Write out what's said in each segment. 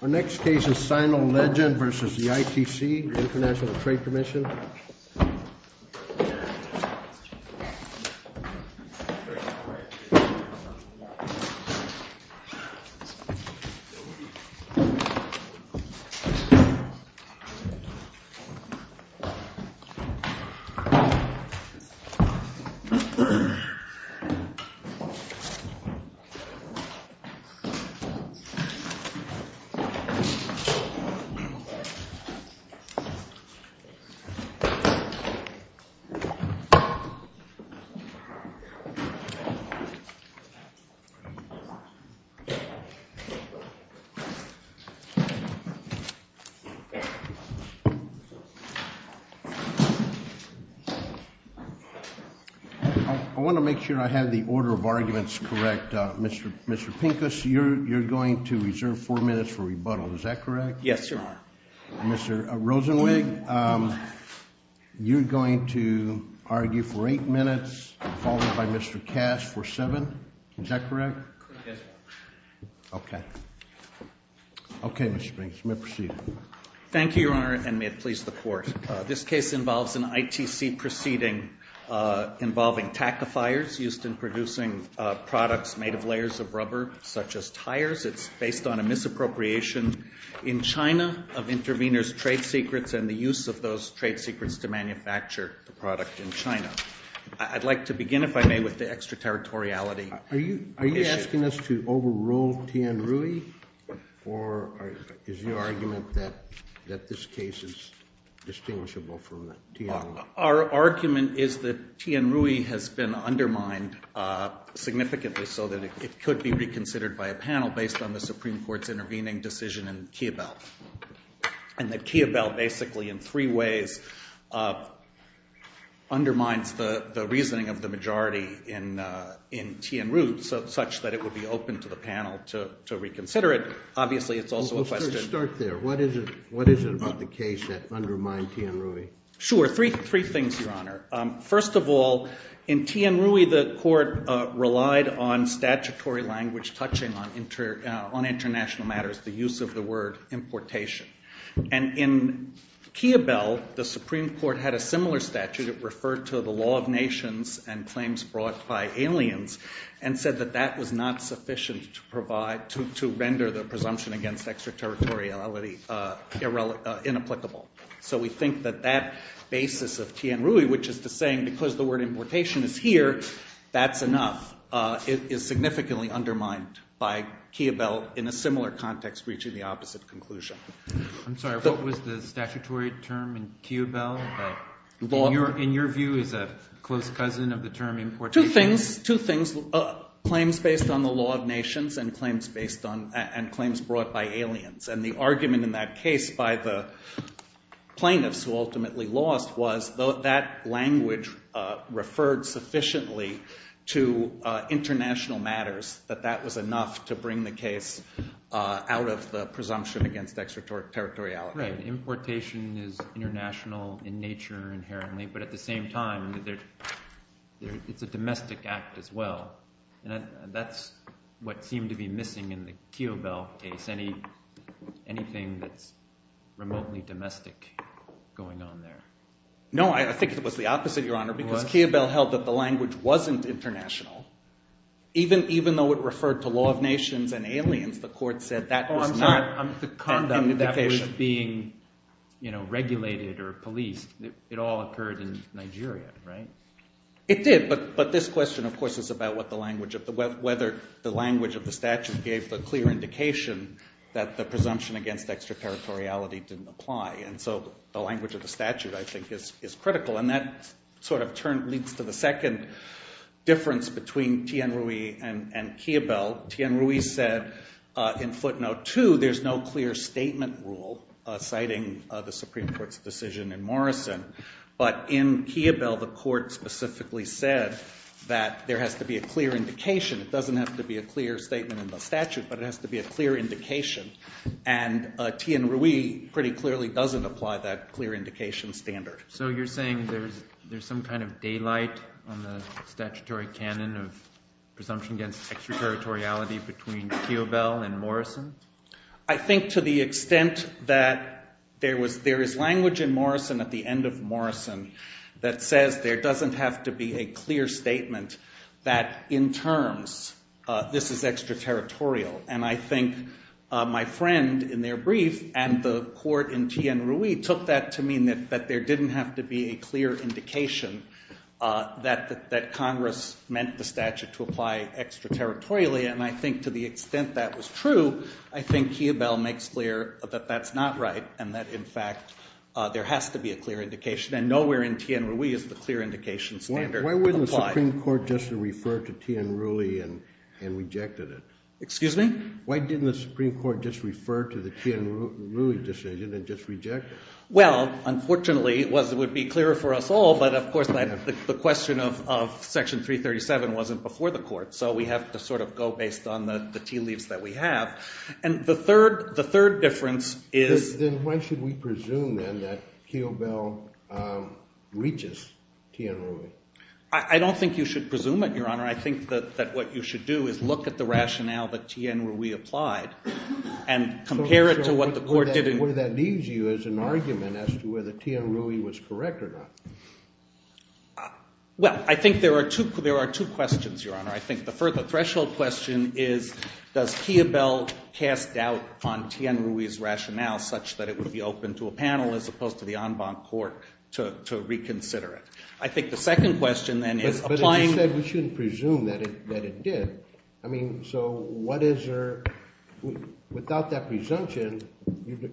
Our next case is Sino Legend v. ITC I want to make sure I have the order of arguments correct. Mr. Pincus, you're going to reserve four minutes for rebuttal, is that correct? Yes, Your Honor. Mr. Rosenwig, you're going to argue for eight minutes, followed by Mr. Cash for seven, is that correct? Yes, Your Honor. Okay. Okay, Mr. Pincus, you may proceed. Thank you, Your Honor, and may it please the Court. This case involves an ITC proceeding involving tactifiers used in producing products made of layers of rubber, such as tires. It's based on a misappropriation in China of interveners' trade secrets and the use of those trade secrets to manufacture the product in China. I'd like to begin, if I may, with the extraterritoriality issue. Are you asking us to overrule Tian Rui, or is your argument that this case is distinguishable from Tian Rui? Our argument is that Tian Rui has been undermined significantly so that it could be reconsidered by a panel based on the Supreme Court's intervening decision in Kiabel. And that Kiabel basically, in three ways, undermines the reasoning of the majority in Tian Rui such that it would be open to the panel to reconsider it. Obviously, it's also a question— Let's start there. What is it about the case that undermined Tian Rui? Sure, three things, Your Honor. First of all, in Tian Rui, the court relied on statutory language touching on international matters, the use of the word importation. And in Kiabel, the Supreme Court had a similar statute. It referred to the law of nations and claims brought by aliens and said that that was not sufficient to render the presumption against extraterritoriality inapplicable. So we think that that basis of Tian Rui, which is the saying because the word importation is here, that's enough, is significantly undermined by Kiabel in a similar context reaching the opposite conclusion. I'm sorry. What was the statutory term in Kiabel? In your view, is that close cousin of the term importation? Two things, claims based on the law of nations and claims based on—and claims brought by aliens. And the argument in that case by the plaintiffs who ultimately lost was that language referred sufficiently to international matters that that was enough to bring the case out of the presumption against extraterritoriality. Right. Importation is international in nature inherently, but at the same time, it's a domestic act as well. And that's what seemed to be missing in the Kiabel case. Anything that's remotely domestic going on there? No, I think it was the opposite, Your Honor, because Kiabel held that the language wasn't international. Even though it referred to law of nations and aliens, the court said that was not— Oh, I'm sorry. I'm— And that was being regulated or policed. It all occurred in Nigeria, right? It did, but this question, of course, is about whether the language of the statute gave the clear indication that the presumption against extraterritoriality didn't apply. And so the language of the statute, I think, is critical. And that sort of leads to the second difference between Thien-Rui and Kiabel. Thien-Rui said in footnote two there's no clear statement rule citing the Supreme Court's decision in Morrison. But in Kiabel, the court specifically said that there has to be a clear indication. It doesn't have to be a clear statement in the statute, but it has to be a clear indication. And Thien-Rui pretty clearly doesn't apply that clear indication standard. So you're saying there's some kind of daylight on the statutory canon of presumption against extraterritoriality between Kiabel and Morrison? I think to the extent that there is language in Morrison at the end of Morrison that says there doesn't have to be a clear statement that in terms this is extraterritorial. And I think my friend in their brief and the court in Thien-Rui took that to mean that there didn't have to be a clear indication that Congress meant the statute to apply extraterritorially. And I think to the extent that was true, I think Kiabel makes clear that that's not right and that in fact there has to be a clear indication. And nowhere in Thien-Rui is the clear indication standard applied. Why wouldn't the Supreme Court just refer to Thien-Rui and rejected it? Excuse me? Why didn't the Supreme Court just refer to the Thien-Rui decision and just reject it? Well, unfortunately it would be clearer for us all, but of course the question of Section 337 wasn't before the court. So we have to sort of go based on the tea leaves that we have. And the third difference is— Then why should we presume then that Kiabel reaches Thien-Rui? I don't think you should presume it, Your Honor. I think that what you should do is look at the rationale that Thien-Rui applied and compare it to what the court did in— to the argument as to whether Thien-Rui was correct or not. Well, I think there are two questions, Your Honor. I think the threshold question is does Kiabel cast doubt on Thien-Rui's rationale such that it would be open to a panel as opposed to the en banc court to reconsider it? I think the second question then is applying— But as you said, we shouldn't presume that it did. I mean, so what is there—without that presumption,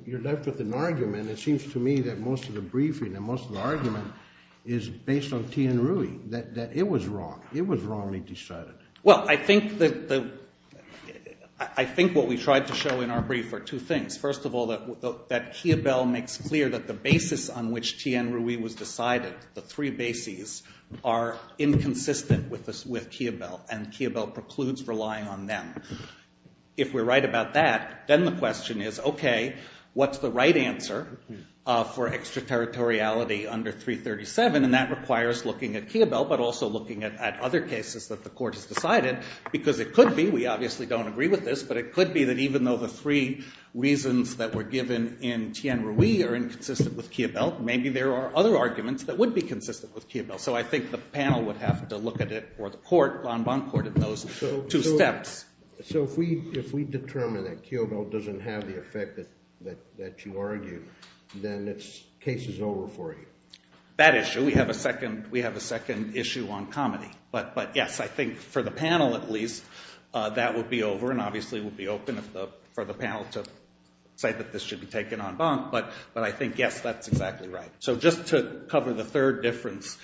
you're left with an argument. It seems to me that most of the briefing and most of the argument is based on Thien-Rui, that it was wrong. It was wrongly decided. Well, I think the—I think what we tried to show in our brief are two things. First of all, that Kiabel makes clear that the basis on which Thien-Rui was decided, the three bases, are inconsistent with Kiabel. And Kiabel precludes relying on them. If we're right about that, then the question is, okay, what's the right answer for extraterritoriality under 337? And that requires looking at Kiabel but also looking at other cases that the court has decided because it could be—we obviously don't agree with this— but it could be that even though the three reasons that were given in Thien-Rui are inconsistent with Kiabel, maybe there are other arguments that would be consistent with Kiabel. So I think the panel would have to look at it or the court, the en banc court, at those two steps. So if we determine that Kiabel doesn't have the effect that you argue, then the case is over for you? That issue. We have a second issue on comedy. But yes, I think for the panel, at least, that would be over and obviously would be open for the panel to say that this should be taken en banc. But I think, yes, that's exactly right. So just to cover the third difference,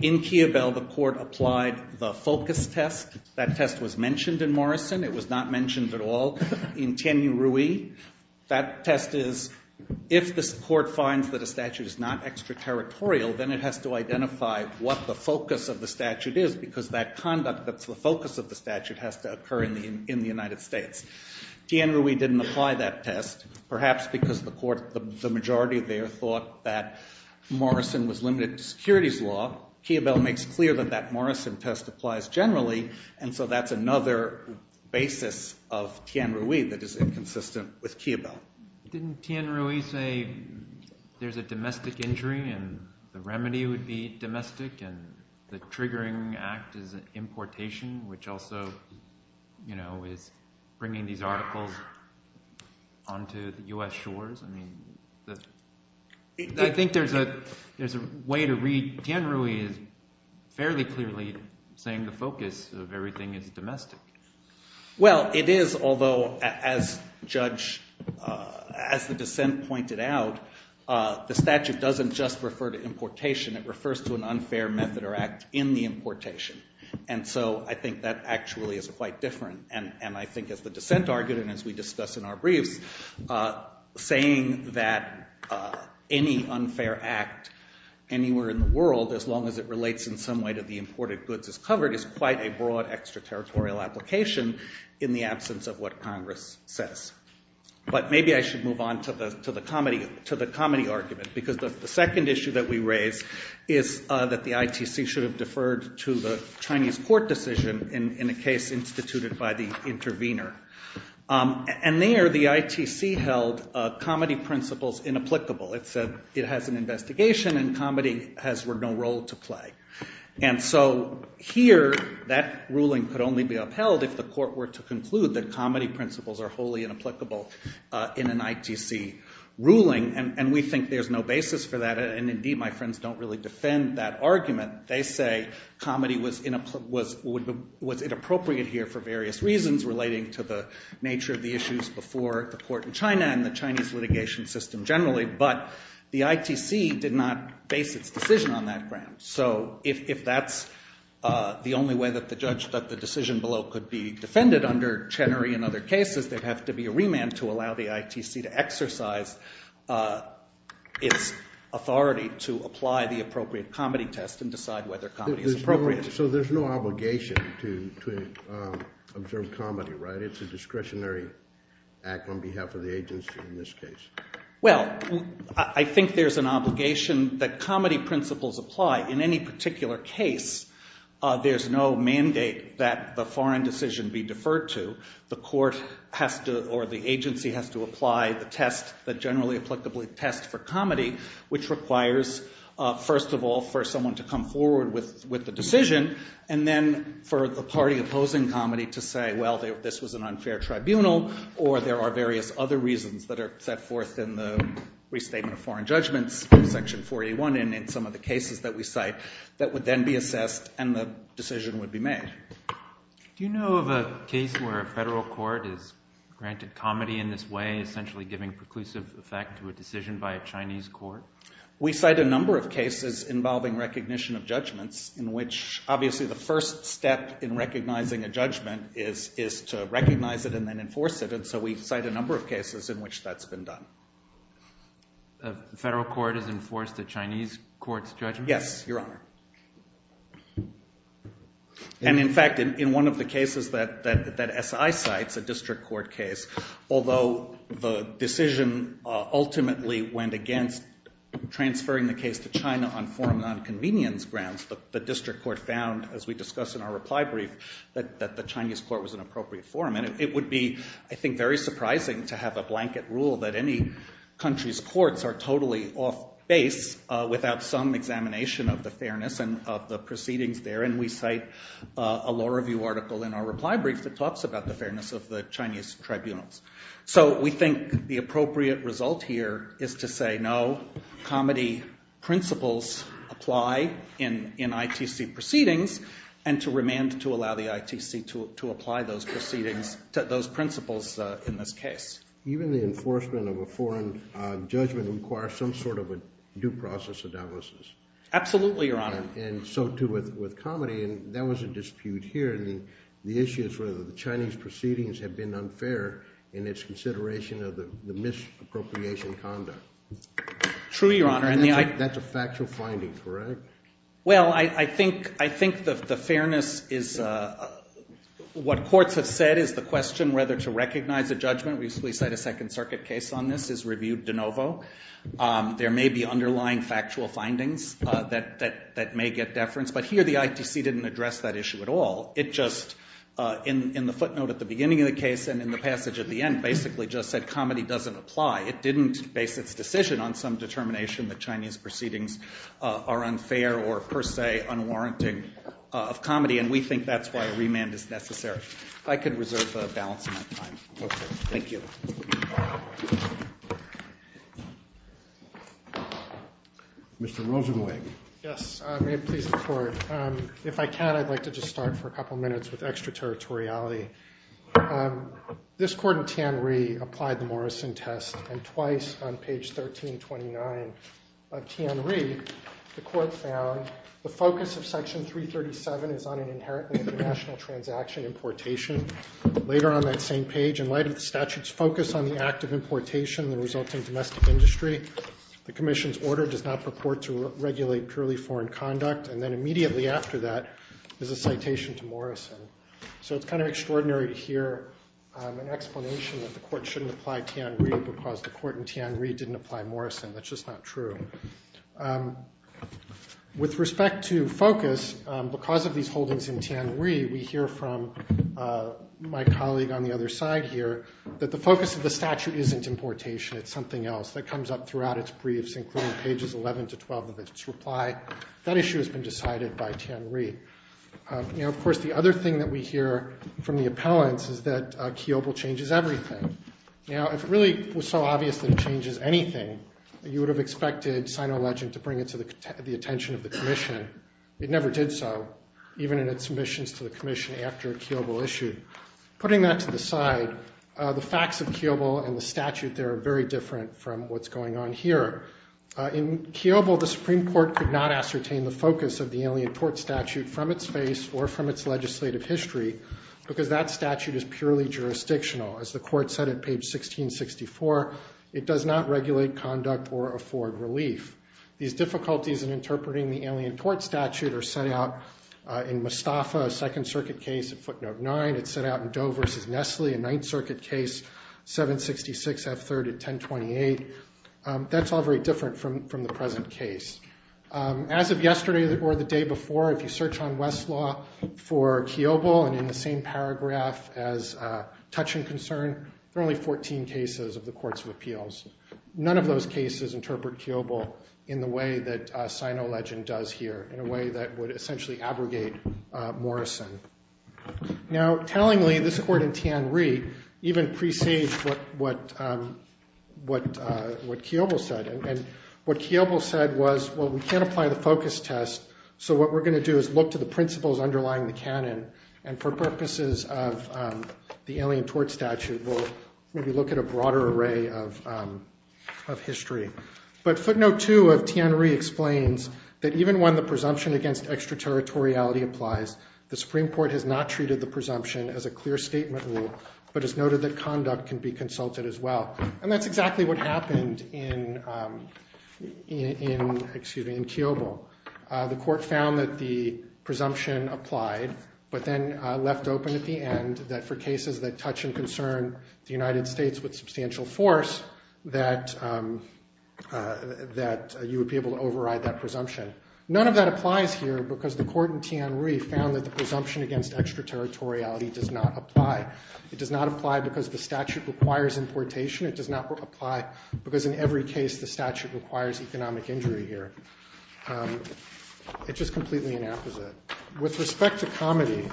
in Kiabel the court applied the focus test. That test was mentioned in Morrison. It was not mentioned at all in Thien-Rui. That test is if the court finds that a statute is not extraterritorial, then it has to identify what the focus of the statute is because that conduct that's the focus of the statute has to occur in the United States. Thien-Rui didn't apply that test. Perhaps because the majority there thought that Morrison was limited to securities law. Kiabel makes clear that that Morrison test applies generally. And so that's another basis of Thien-Rui that is inconsistent with Kiabel. Didn't Thien-Rui say there's a domestic injury and the remedy would be domestic and the triggering act is importation, which also is bringing these articles onto the US shores? I think there's a way to read – Thien-Rui is fairly clearly saying the focus of everything is domestic. Well, it is, although as the dissent pointed out, the statute doesn't just refer to importation. It refers to an unfair method or act in the importation. And so I think that actually is quite different. And I think as the dissent argued and as we discussed in our briefs, saying that any unfair act anywhere in the world, as long as it relates in some way to the imported goods as covered, is quite a broad extraterritorial application in the absence of what Congress says. But maybe I should move on to the comedy argument because the second issue that we raised is that the ITC should have deferred to the Chinese court decision in a case instituted by the intervener. And there the ITC held comedy principles inapplicable. It said it has an investigation and comedy has no role to play. And so here that ruling could only be upheld if the court were to conclude that comedy principles are wholly inapplicable in an ITC ruling, and we think there's no basis for that. And indeed, my friends don't really defend that argument. They say comedy was inappropriate here for various reasons relating to the nature of the issues before the court in China and the Chinese litigation system generally. But the ITC did not base its decision on that ground. So if that's the only way that the decision below could be defended under Chenery and other cases, there'd have to be a remand to allow the ITC to exercise its authority to apply the appropriate comedy test and decide whether comedy is appropriate. So there's no obligation to observe comedy, right? It's a discretionary act on behalf of the agency in this case. Well, I think there's an obligation that comedy principles apply. In any particular case, there's no mandate that the foreign decision be deferred to. the agency has to apply the test that generally applicably tests for comedy, which requires, first of all, for someone to come forward with the decision, and then for the party opposing comedy to say, well, this was an unfair tribunal, or there are various other reasons that are set forth in the Restatement of Foreign Judgments, Section 481, and in some of the cases that we cite that would then be assessed and the decision would be made. Do you know of a case where a federal court has granted comedy in this way, essentially giving preclusive effect to a decision by a Chinese court? We cite a number of cases involving recognition of judgments in which, obviously, the first step in recognizing a judgment is to recognize it and then enforce it. And so we cite a number of cases in which that's been done. A federal court has enforced a Chinese court's judgment? Yes, Your Honor. And, in fact, in one of the cases that SI cites, a district court case, although the decision ultimately went against transferring the case to China on foreign nonconvenience grounds, the district court found, as we discussed in our reply brief, that the Chinese court was an appropriate forum. And it would be, I think, very surprising to have a blanket rule that any country's courts are totally off base without some examination of the fairness and of the proceedings there. And we cite a law review article in our reply brief that talks about the fairness of the Chinese tribunals. So we think the appropriate result here is to say, no, comedy principles apply in ITC proceedings, and to remand to allow the ITC to apply those principles in this case. Even the enforcement of a foreign judgment requires some sort of a due process analysis. Absolutely, Your Honor. And so too with comedy. And that was a dispute here. And the issue is whether the Chinese proceedings have been unfair in its consideration of the misappropriation conduct. True, Your Honor. And that's a factual finding, correct? Well, I think the fairness is what courts have said is the question whether to recognize a judgment. We cite a Second Circuit case on this. It's reviewed de novo. There may be underlying factual findings that may get deference. But here the ITC didn't address that issue at all. It just, in the footnote at the beginning of the case and in the passage at the end, basically just said comedy doesn't apply. It didn't base its decision on some determination that Chinese proceedings are unfair or, per se, unwarranted of comedy. And we think that's why a remand is necessary. If I could reserve the balance of my time. Okay. Thank you. Mr. Rosenweg. Yes. May it please the Court. If I can, I'd like to just start for a couple minutes with extraterritoriality. This Court in Tianri applied the Morrison Test, and twice on page 1329 of Tianri, the Court found the focus of Section 337 is on an inherently international transaction importation. Later on that same page, in light of the statute's focus on the act of importation and the resulting domestic industry, the Commission's order does not purport to regulate purely foreign conduct. And then immediately after that is a citation to Morrison. So it's kind of extraordinary to hear an explanation that the Court shouldn't apply Tianri because the Court in Tianri didn't apply Morrison. That's just not true. With respect to focus, because of these holdings in Tianri, we hear from my colleague on the other side here that the focus of the statute isn't importation. It's something else that comes up throughout its briefs, including pages 11 to 12 of its reply. That issue has been decided by Tianri. Now, of course, the other thing that we hear from the appellants is that Kiobel changes everything. Now, if it really was so obvious that it changes anything, you would have expected Sino-Legend to bring it to the attention of the Commission. It never did so, even in its submissions to the Commission after Kiobel issued. Putting that to the side, the facts of Kiobel and the statute there are very different from what's going on here. In Kiobel, the Supreme Court could not ascertain the focus of the Alien Tort Statute from its face or from its legislative history because that statute is purely jurisdictional. As the Court said at page 1664, it does not regulate conduct or afford relief. These difficulties in interpreting the Alien Tort Statute are set out in Mustafa, a Second Circuit case at footnote 9. It's set out in Doe v. Nestle, a Ninth Circuit case, 766 F. 3rd at 1028. That's all very different from the present case. As of yesterday or the day before, if you search on Westlaw for Kiobel and in the same paragraph as Touch and Concern, there are only 14 cases of the Courts of Appeals. None of those cases interpret Kiobel in the way that Sino-Legend does here, in a way that would essentially abrogate Morrison. Now, tellingly, this Court in Tianri even presaged what Kiobel said. And what Kiobel said was, well, we can't apply the focus test, so what we're going to do is look to the principles underlying the canon. And for purposes of the Alien Tort Statute, we'll maybe look at a broader array of history. But footnote 2 of Tianri explains that even when the presumption against extraterritoriality applies, the Supreme Court has not treated the presumption as a clear statement rule, but has noted that conduct can be consulted as well. And that's exactly what happened in Kiobel. The Court found that the presumption applied, but then left open at the end that for cases that touch and concern the United States with substantial force, that you would be able to override that presumption. None of that applies here because the Court in Tianri found that the presumption against extraterritoriality does not apply. It does not apply because the statute requires importation. It does not apply because in every case the statute requires economic injury here. It's just completely inapposite. With respect to comedy,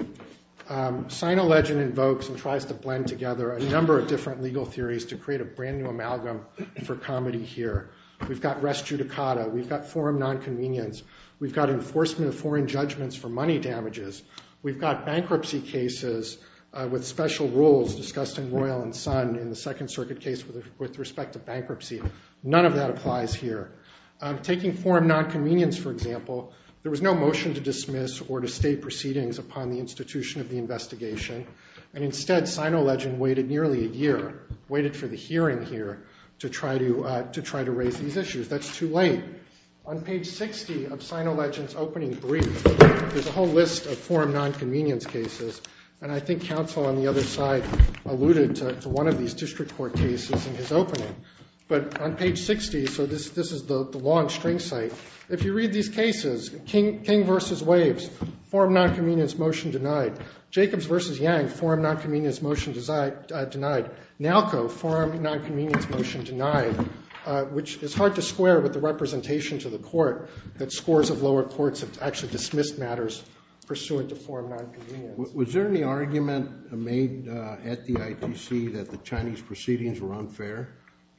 SinoLegend invokes and tries to blend together a number of different legal theories to create a brand new amalgam for comedy here. We've got res judicata. We've got forum nonconvenience. We've got enforcement of foreign judgments for money damages. We've got bankruptcy cases with special rules discussed in Royal and Son in the Second Circuit case with respect to bankruptcy. None of that applies here. Taking forum nonconvenience, for example, there was no motion to dismiss or to state proceedings upon the institution of the investigation. And instead, SinoLegend waited nearly a year, waited for the hearing here, to try to raise these issues. That's too late. On page 60 of SinoLegend's opening brief, there's a whole list of forum nonconvenience cases. And I think counsel on the other side alluded to one of these district court cases in his opening. But on page 60, so this is the long string site, if you read these cases, King v. Waves, forum nonconvenience motion denied. Jacobs v. Yang, forum nonconvenience motion denied. Nowco, forum nonconvenience motion denied, which is hard to square with the representation to the court that scores of lower courts have actually dismissed matters pursuant to forum nonconvenience. Was there any argument made at the ITC that the Chinese proceedings were unfair?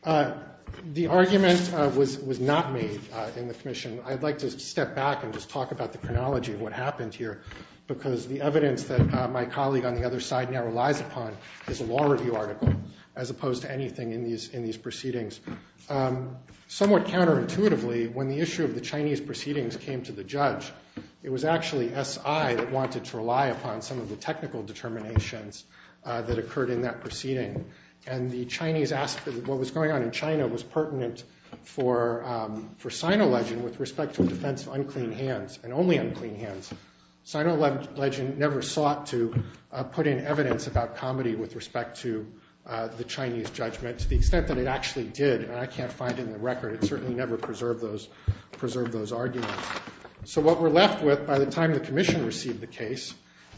The argument was not made in the commission. I'd like to step back and just talk about the chronology of what happened here, because the evidence that my colleague on the other side now relies upon is a law review article, as opposed to anything in these proceedings. Somewhat counterintuitively, when the issue of the Chinese proceedings came to the judge, it was actually SI that wanted to rely upon some of the technical determinations that occurred in that proceeding. And what was going on in China was pertinent for Sino legend with respect to the defense of unclean hands, and only unclean hands. Sino legend never sought to put in evidence about comedy with respect to the Chinese judgment, to the extent that it actually did. And I can't find it in the record. It certainly never preserved those arguments. So what we're left with by the time the commission received the case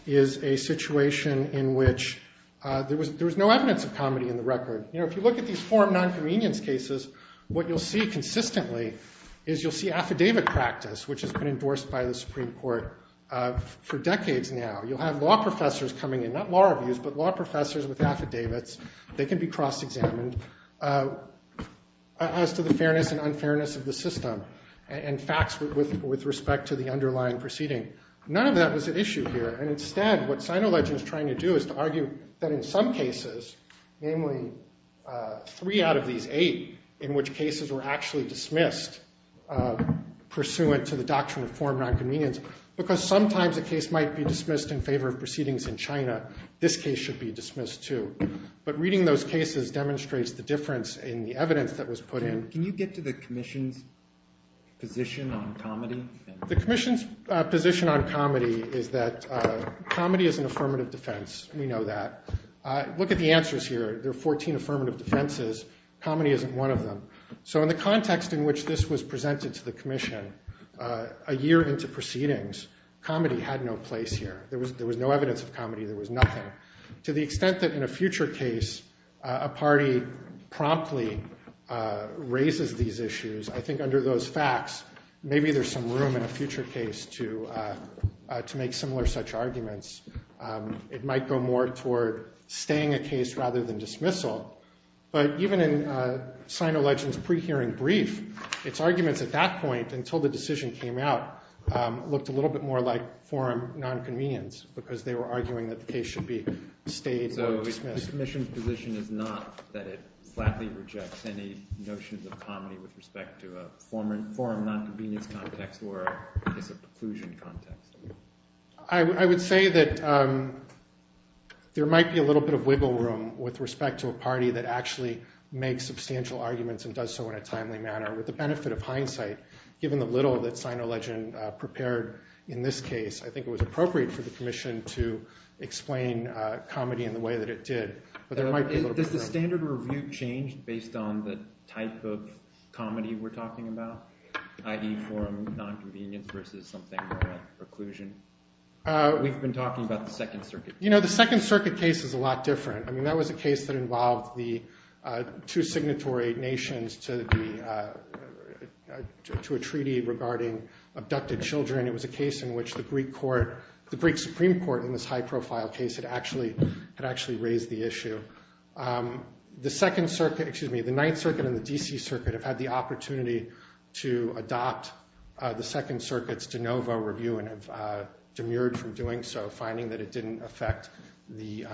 is a situation in which there was no evidence of comedy in the record. If you look at these forum nonconvenience cases, what you'll see consistently is you'll see affidavit practice, which has been endorsed by the Supreme Court for decades now. You'll have law professors coming in, not law reviews, but law professors with affidavits. They can be cross-examined as to the fairness and unfairness of the system. And facts with respect to the underlying proceeding. None of that was at issue here. And instead, what Sino legend is trying to do is to argue that in some cases, namely three out of these eight, in which cases were actually dismissed pursuant to the doctrine of forum nonconvenience. Because sometimes a case might be dismissed in favor of proceedings in China. This case should be dismissed, too. But reading those cases demonstrates the difference in the evidence that was put in. Can you get to the commission's position on comedy? The commission's position on comedy is that comedy is an affirmative defense. We know that. Look at the answers here. There are 14 affirmative defenses. Comedy isn't one of them. So in the context in which this was presented to the commission a year into proceedings, comedy had no place here. There was no evidence of comedy. There was nothing. To the extent that in a future case, a party promptly raises these issues, I think under those facts, maybe there's some room in a future case to make similar such arguments. It might go more toward staying a case rather than dismissal. But even in SinoLegend's pre-hearing brief, its arguments at that point, until the decision came out, looked a little bit more like forum nonconvenience, because they were arguing that the case should be stayed or dismissed. So the commission's position is not that it flatly rejects any notions of comedy with respect to a forum nonconvenience context or a case of preclusion context? I would say that there might be a little bit of wiggle room with respect to a party that actually makes substantial arguments and does so in a timely manner. With the benefit of hindsight, given the little that SinoLegend prepared in this case, I think it was appropriate for the commission to explain comedy in the way that it did. Does the standard review change based on the type of comedy we're talking about, i.e., forum nonconvenience versus something more like preclusion? We've been talking about the Second Circuit. The Second Circuit case is a lot different. That was a case that involved the two signatory nations to a treaty regarding abducted children. It was a case in which the Greek Supreme Court, in this high-profile case, had actually raised the issue. The Ninth Circuit and the D.C. Circuit have had the opportunity to adopt the Second Circuit's de novo review and have demurred from doing so, finding that it didn't affect the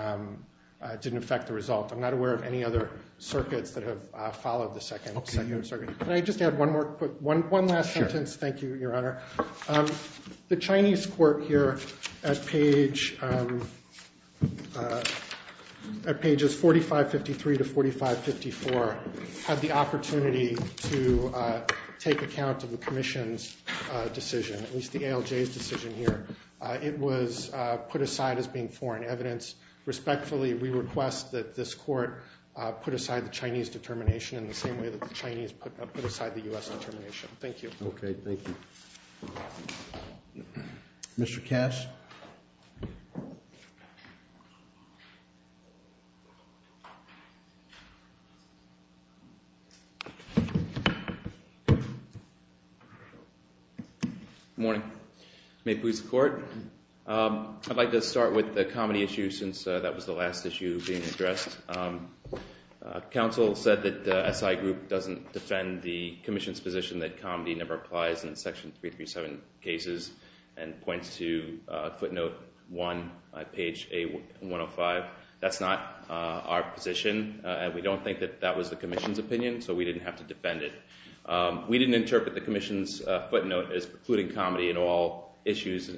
result. I'm not aware of any other circuits that have followed the Second Circuit. Can I just add one last sentence? Sure. Thank you, Your Honor. The Chinese court here at pages 4553 to 4554 had the opportunity to take account of the commission's decision, at least the ALJ's decision here. It was put aside as being foreign evidence. Respectfully, we request that this court put aside the Chinese determination in the same way that the Chinese put aside the U.S. determination. Thank you. Okay, thank you. Mr. Cash? Good morning. May it please the Court. I'd like to start with the comedy issue since that was the last issue being addressed. Counsel said that the SI group doesn't defend the commission's position that comedy never applies in Section 337 cases and points to footnote 1, page 105. That's not our position, and we don't think that that was the commission's opinion, so we didn't have to defend it. We didn't interpret the commission's footnote as precluding comedy in all issues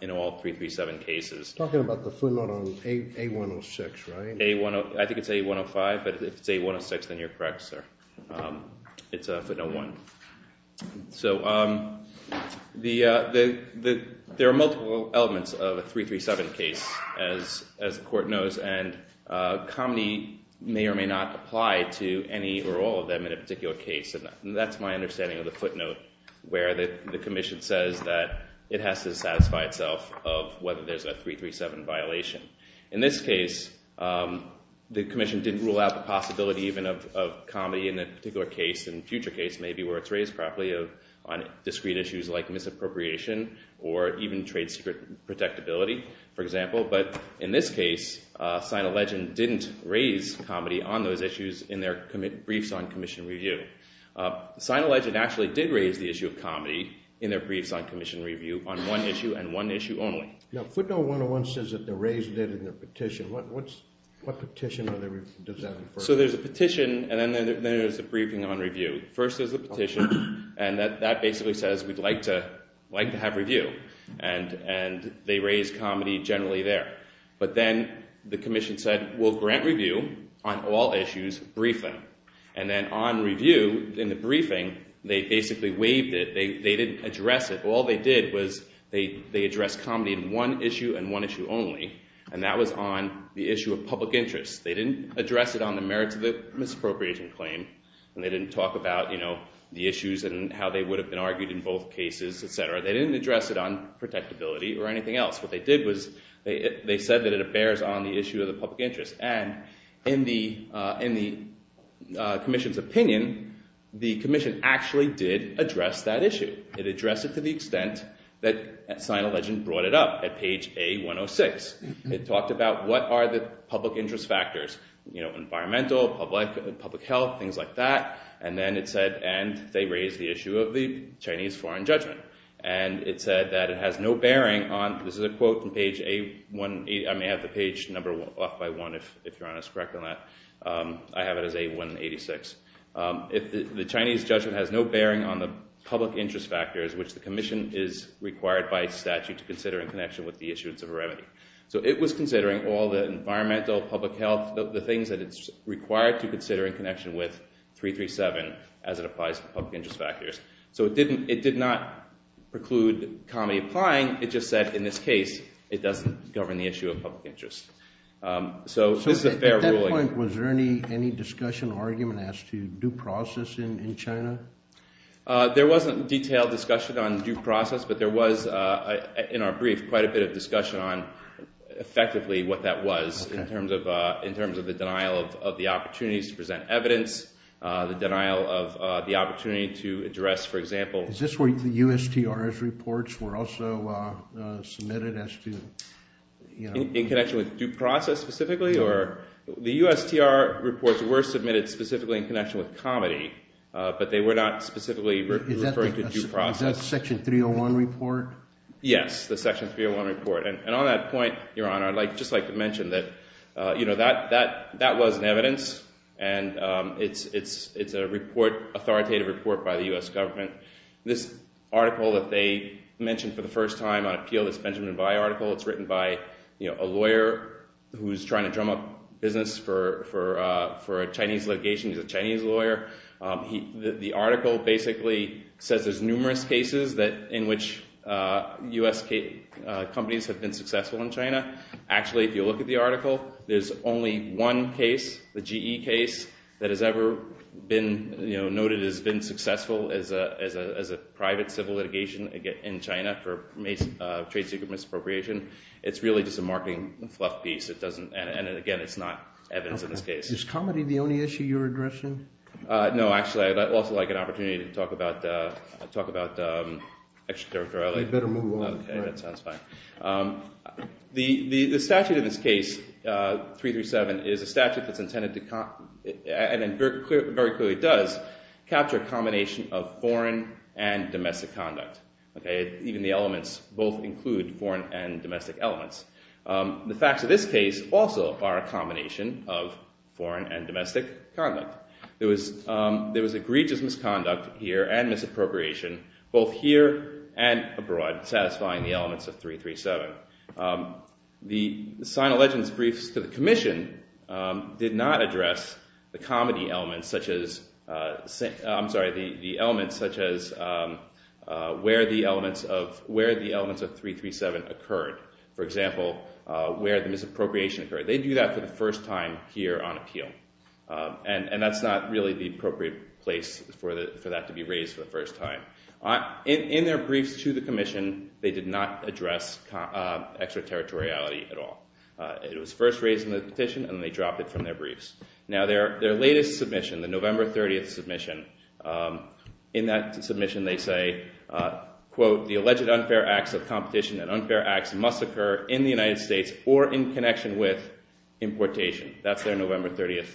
in all 337 cases. You're talking about the footnote on A106, right? I think it's A105, but if it's A106, then you're correct, sir. It's footnote 1. So there are multiple elements of a 337 case, as the court knows, and comedy may or may not apply to any or all of them in a particular case, and that's my understanding of the footnote where the commission says that it has to satisfy itself of whether there's a 337 violation. In this case, the commission didn't rule out the possibility even of comedy in a particular case, in a future case maybe, where it's raised properly on discrete issues like misappropriation or even trade secret protectability, for example, but in this case, Sign a Legend didn't raise comedy on those issues in their briefs on commission review. Sign a Legend actually did raise the issue of comedy in their briefs on commission review on one issue and one issue only. Yeah, footnote 101 says that they raised it in their petition. What petition does that refer to? So there's a petition, and then there's a briefing on review. First, there's a petition, and that basically says we'd like to have review, and they raised comedy generally there, but then the commission said, we'll grant review on all issues briefly, and then on review, in the briefing, they basically waived it. They didn't address it. All they did was they addressed comedy in one issue and one issue only, and that was on the issue of public interest. They didn't address it on the merits of the misappropriation claim, and they didn't talk about the issues and how they would have been argued in both cases, et cetera. They didn't address it on protectability or anything else. What they did was they said that it bears on the issue of the public interest, and in the commission's opinion, the commission actually did address that issue. It addressed it to the extent that Sign a Legend brought it up at page A106. It talked about what are the public interest factors, environmental, public health, things like that, and then it said they raised the issue of the Chinese foreign judgment, and it said that it has no bearing on, this is a quote from page A186. I may have the page number off by one if you're honest and correct on that. I have it as A186. The Chinese judgment has no bearing on the public interest factors, which the commission is required by statute to consider in connection with the issuance of a remedy. So it was considering all the environmental, public health, the things that it's required to consider in connection with 337 as it applies to public interest factors. So it did not preclude comedy applying. It just said in this case it doesn't govern the issue of public interest. So this is a fair ruling. At that point, was there any discussion or argument as to due process in China? There wasn't detailed discussion on due process, but there was in our brief quite a bit of discussion on effectively what that was in terms of the denial of the opportunities to present evidence, the denial of the opportunity to address, for example— Is this where the USTRS reports were also submitted as to— In connection with due process specifically? The USTR reports were submitted specifically in connection with comedy, but they were not specifically referring to due process. Is that Section 301 report? Yes, the Section 301 report. And on that point, Your Honor, I'd just like to mention that that was in evidence and it's an authoritative report by the US government. This article that they mentioned for the first time on appeal, this Benjamin Vi article, it's written by a lawyer who's trying to drum up business for a Chinese litigation. He's a Chinese lawyer. The article basically says there's numerous cases in which US companies have been successful in China. Actually, if you look at the article, there's only one case, the GE case, that has ever been noted as being successful as a private civil litigation in China for trade secret misappropriation. It's really just a marketing fluff piece, and again, it's not evidence in this case. Is comedy the only issue you're addressing? No, actually, I'd also like an opportunity to talk about extraterritoriality. You'd better move on. Okay, that sounds fine. The statute in this case, 337, is a statute that's intended to, and very clearly does, capture a combination of foreign and domestic conduct. Even the elements both include foreign and domestic elements. The facts of this case also are a combination of foreign and domestic conduct. There was egregious misconduct here and misappropriation both here and abroad satisfying the elements of 337. The sign of legends briefs to the commission did not address the comedy elements such as, I'm sorry, the elements such as where the elements of 337 occurred. For example, where the misappropriation occurred. They do that for the first time here on appeal, and that's not really the appropriate place for that to be raised for the first time. In their briefs to the commission, they did not address extraterritoriality at all. It was first raised in the petition, and then they dropped it from their briefs. Now their latest submission, the November 30th submission, in that submission they say, quote, the alleged unfair acts of competition and unfair acts must occur in the United States or in connection with importation. That's their November 30th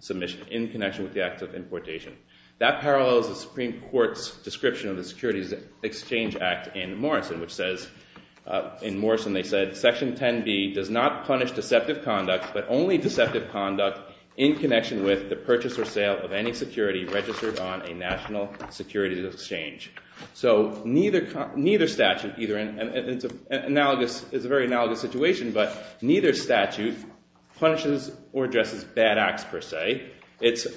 submission, in connection with the acts of importation. That parallels the Supreme Court's description of the Securities Exchange Act in Morrison, which says, in Morrison they said, Section 10B does not punish deceptive conduct, but only deceptive conduct in connection with the purchase or sale of any security registered on a national securities exchange. So neither statute, it's a very analogous situation, but neither statute punishes or addresses bad acts per se. The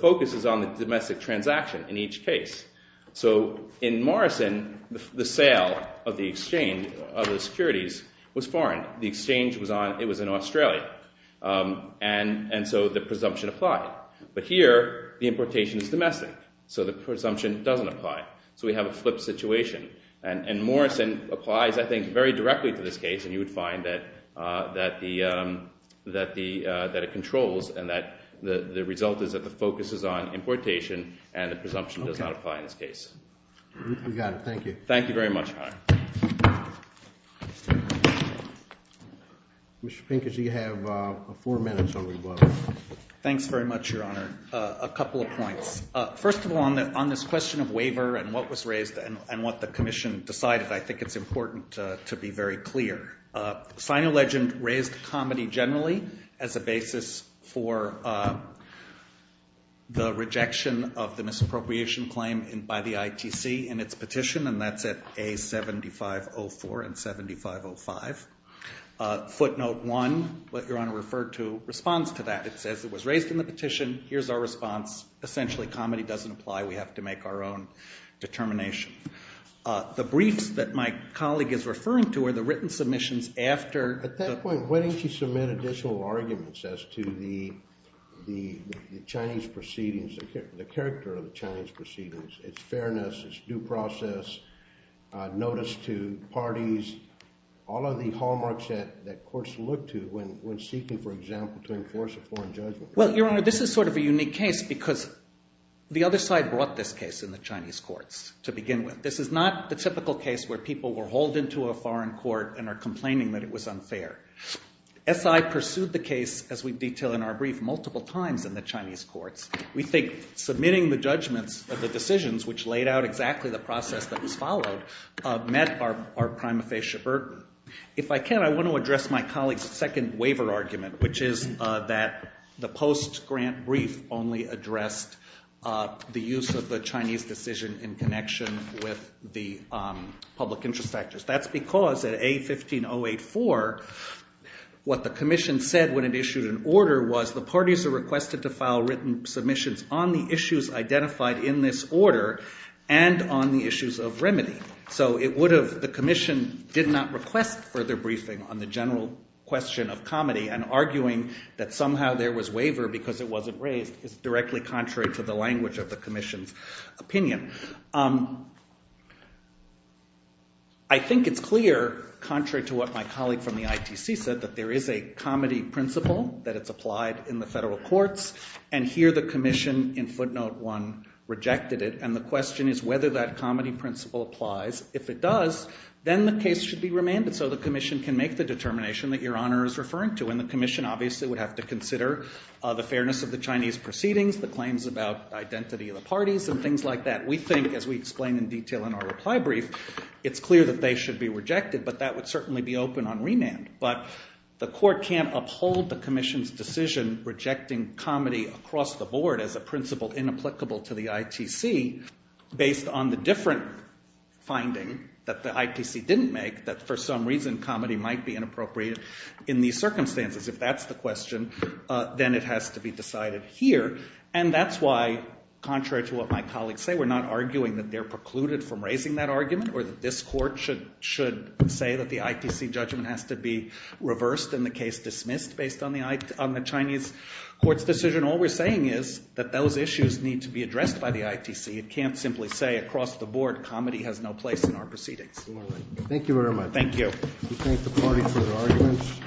focus is on the domestic transaction in each case. So in Morrison, the sale of the exchange, of the securities, was foreign. The exchange was in Australia, and so the presumption applied. But here, the importation is domestic, so the presumption doesn't apply. So we have a flipped situation. And Morrison applies, I think, very directly to this case, and you would find that it controls and that the result is that the focus is on importation and the presumption does not apply in this case. We got it. Thank you. Thank you very much, Your Honor. Mr. Pincus, you have four minutes on the vote. Thanks very much, Your Honor. A couple of points. First of all, on this question of waiver and what was raised and what the Commission decided, I think it's important to be very clear. SinoLegend raised comedy generally as a basis for the rejection of the misappropriation claim by the ITC in its petition, and that's at A7504 and A7505. Footnote 1, what Your Honor referred to, responds to that. It says it was raised in the petition. Here's our response. Essentially, comedy doesn't apply. We have to make our own determination. The briefs that my colleague is referring to are the written submissions after. At that point, why didn't you submit additional arguments as to the Chinese proceedings, the character of the Chinese proceedings, its fairness, its due process, notice to parties, all of the hallmarks that courts look to when seeking, for example, to enforce a foreign judgment? Well, Your Honor, this is sort of a unique case because the other side brought this case in the Chinese courts to begin with. This is not the typical case where people were hauled into a foreign court and are complaining that it was unfair. SI pursued the case, as we detail in our brief, multiple times in the Chinese courts. We think submitting the judgments of the decisions, which laid out exactly the process that was followed, met our prima facie burden. If I can, I want to address my colleague's second waiver argument, which is that the post-grant brief only addressed the use of the Chinese decision in connection with the public interest factors. That's because at A15084, what the commission said when it issued an order was the parties are requested to file written submissions on the issues identified in this order and on the issues of remedy. So the commission did not request further briefing on the general question of comedy and arguing that somehow there was waiver because it wasn't raised is directly contrary to the language of the commission's opinion. I think it's clear, contrary to what my colleague from the ITC said, that there is a comedy principle that it's applied in the federal courts. And here the commission, in footnote one, rejected it. And the question is whether that comedy principle applies. If it does, then the case should be remanded so the commission can make the determination that your honor is referring to. And the commission, obviously, would have to consider the fairness of the Chinese proceedings, the claims about identity of the parties, and things like that. We think, as we explain in detail in our reply brief, it's clear that they should be rejected. But that would certainly be open on remand. But the court can't uphold the commission's decision rejecting comedy across the board as a principle inapplicable to the ITC based on the different finding that the ITC didn't make, that for some reason comedy might be inappropriate in these circumstances. If that's the question, then it has to be decided here. And that's why, contrary to what my colleagues say, we're not arguing that they're precluded from raising that argument or that this court should say that the ITC judgment has to be reversed and the case dismissed based on the Chinese court's decision. All we're saying is that those issues need to be addressed by the ITC. It can't simply say across the board comedy has no place in our proceedings. Thank you very much. Thank you. We thank the party for their arguments.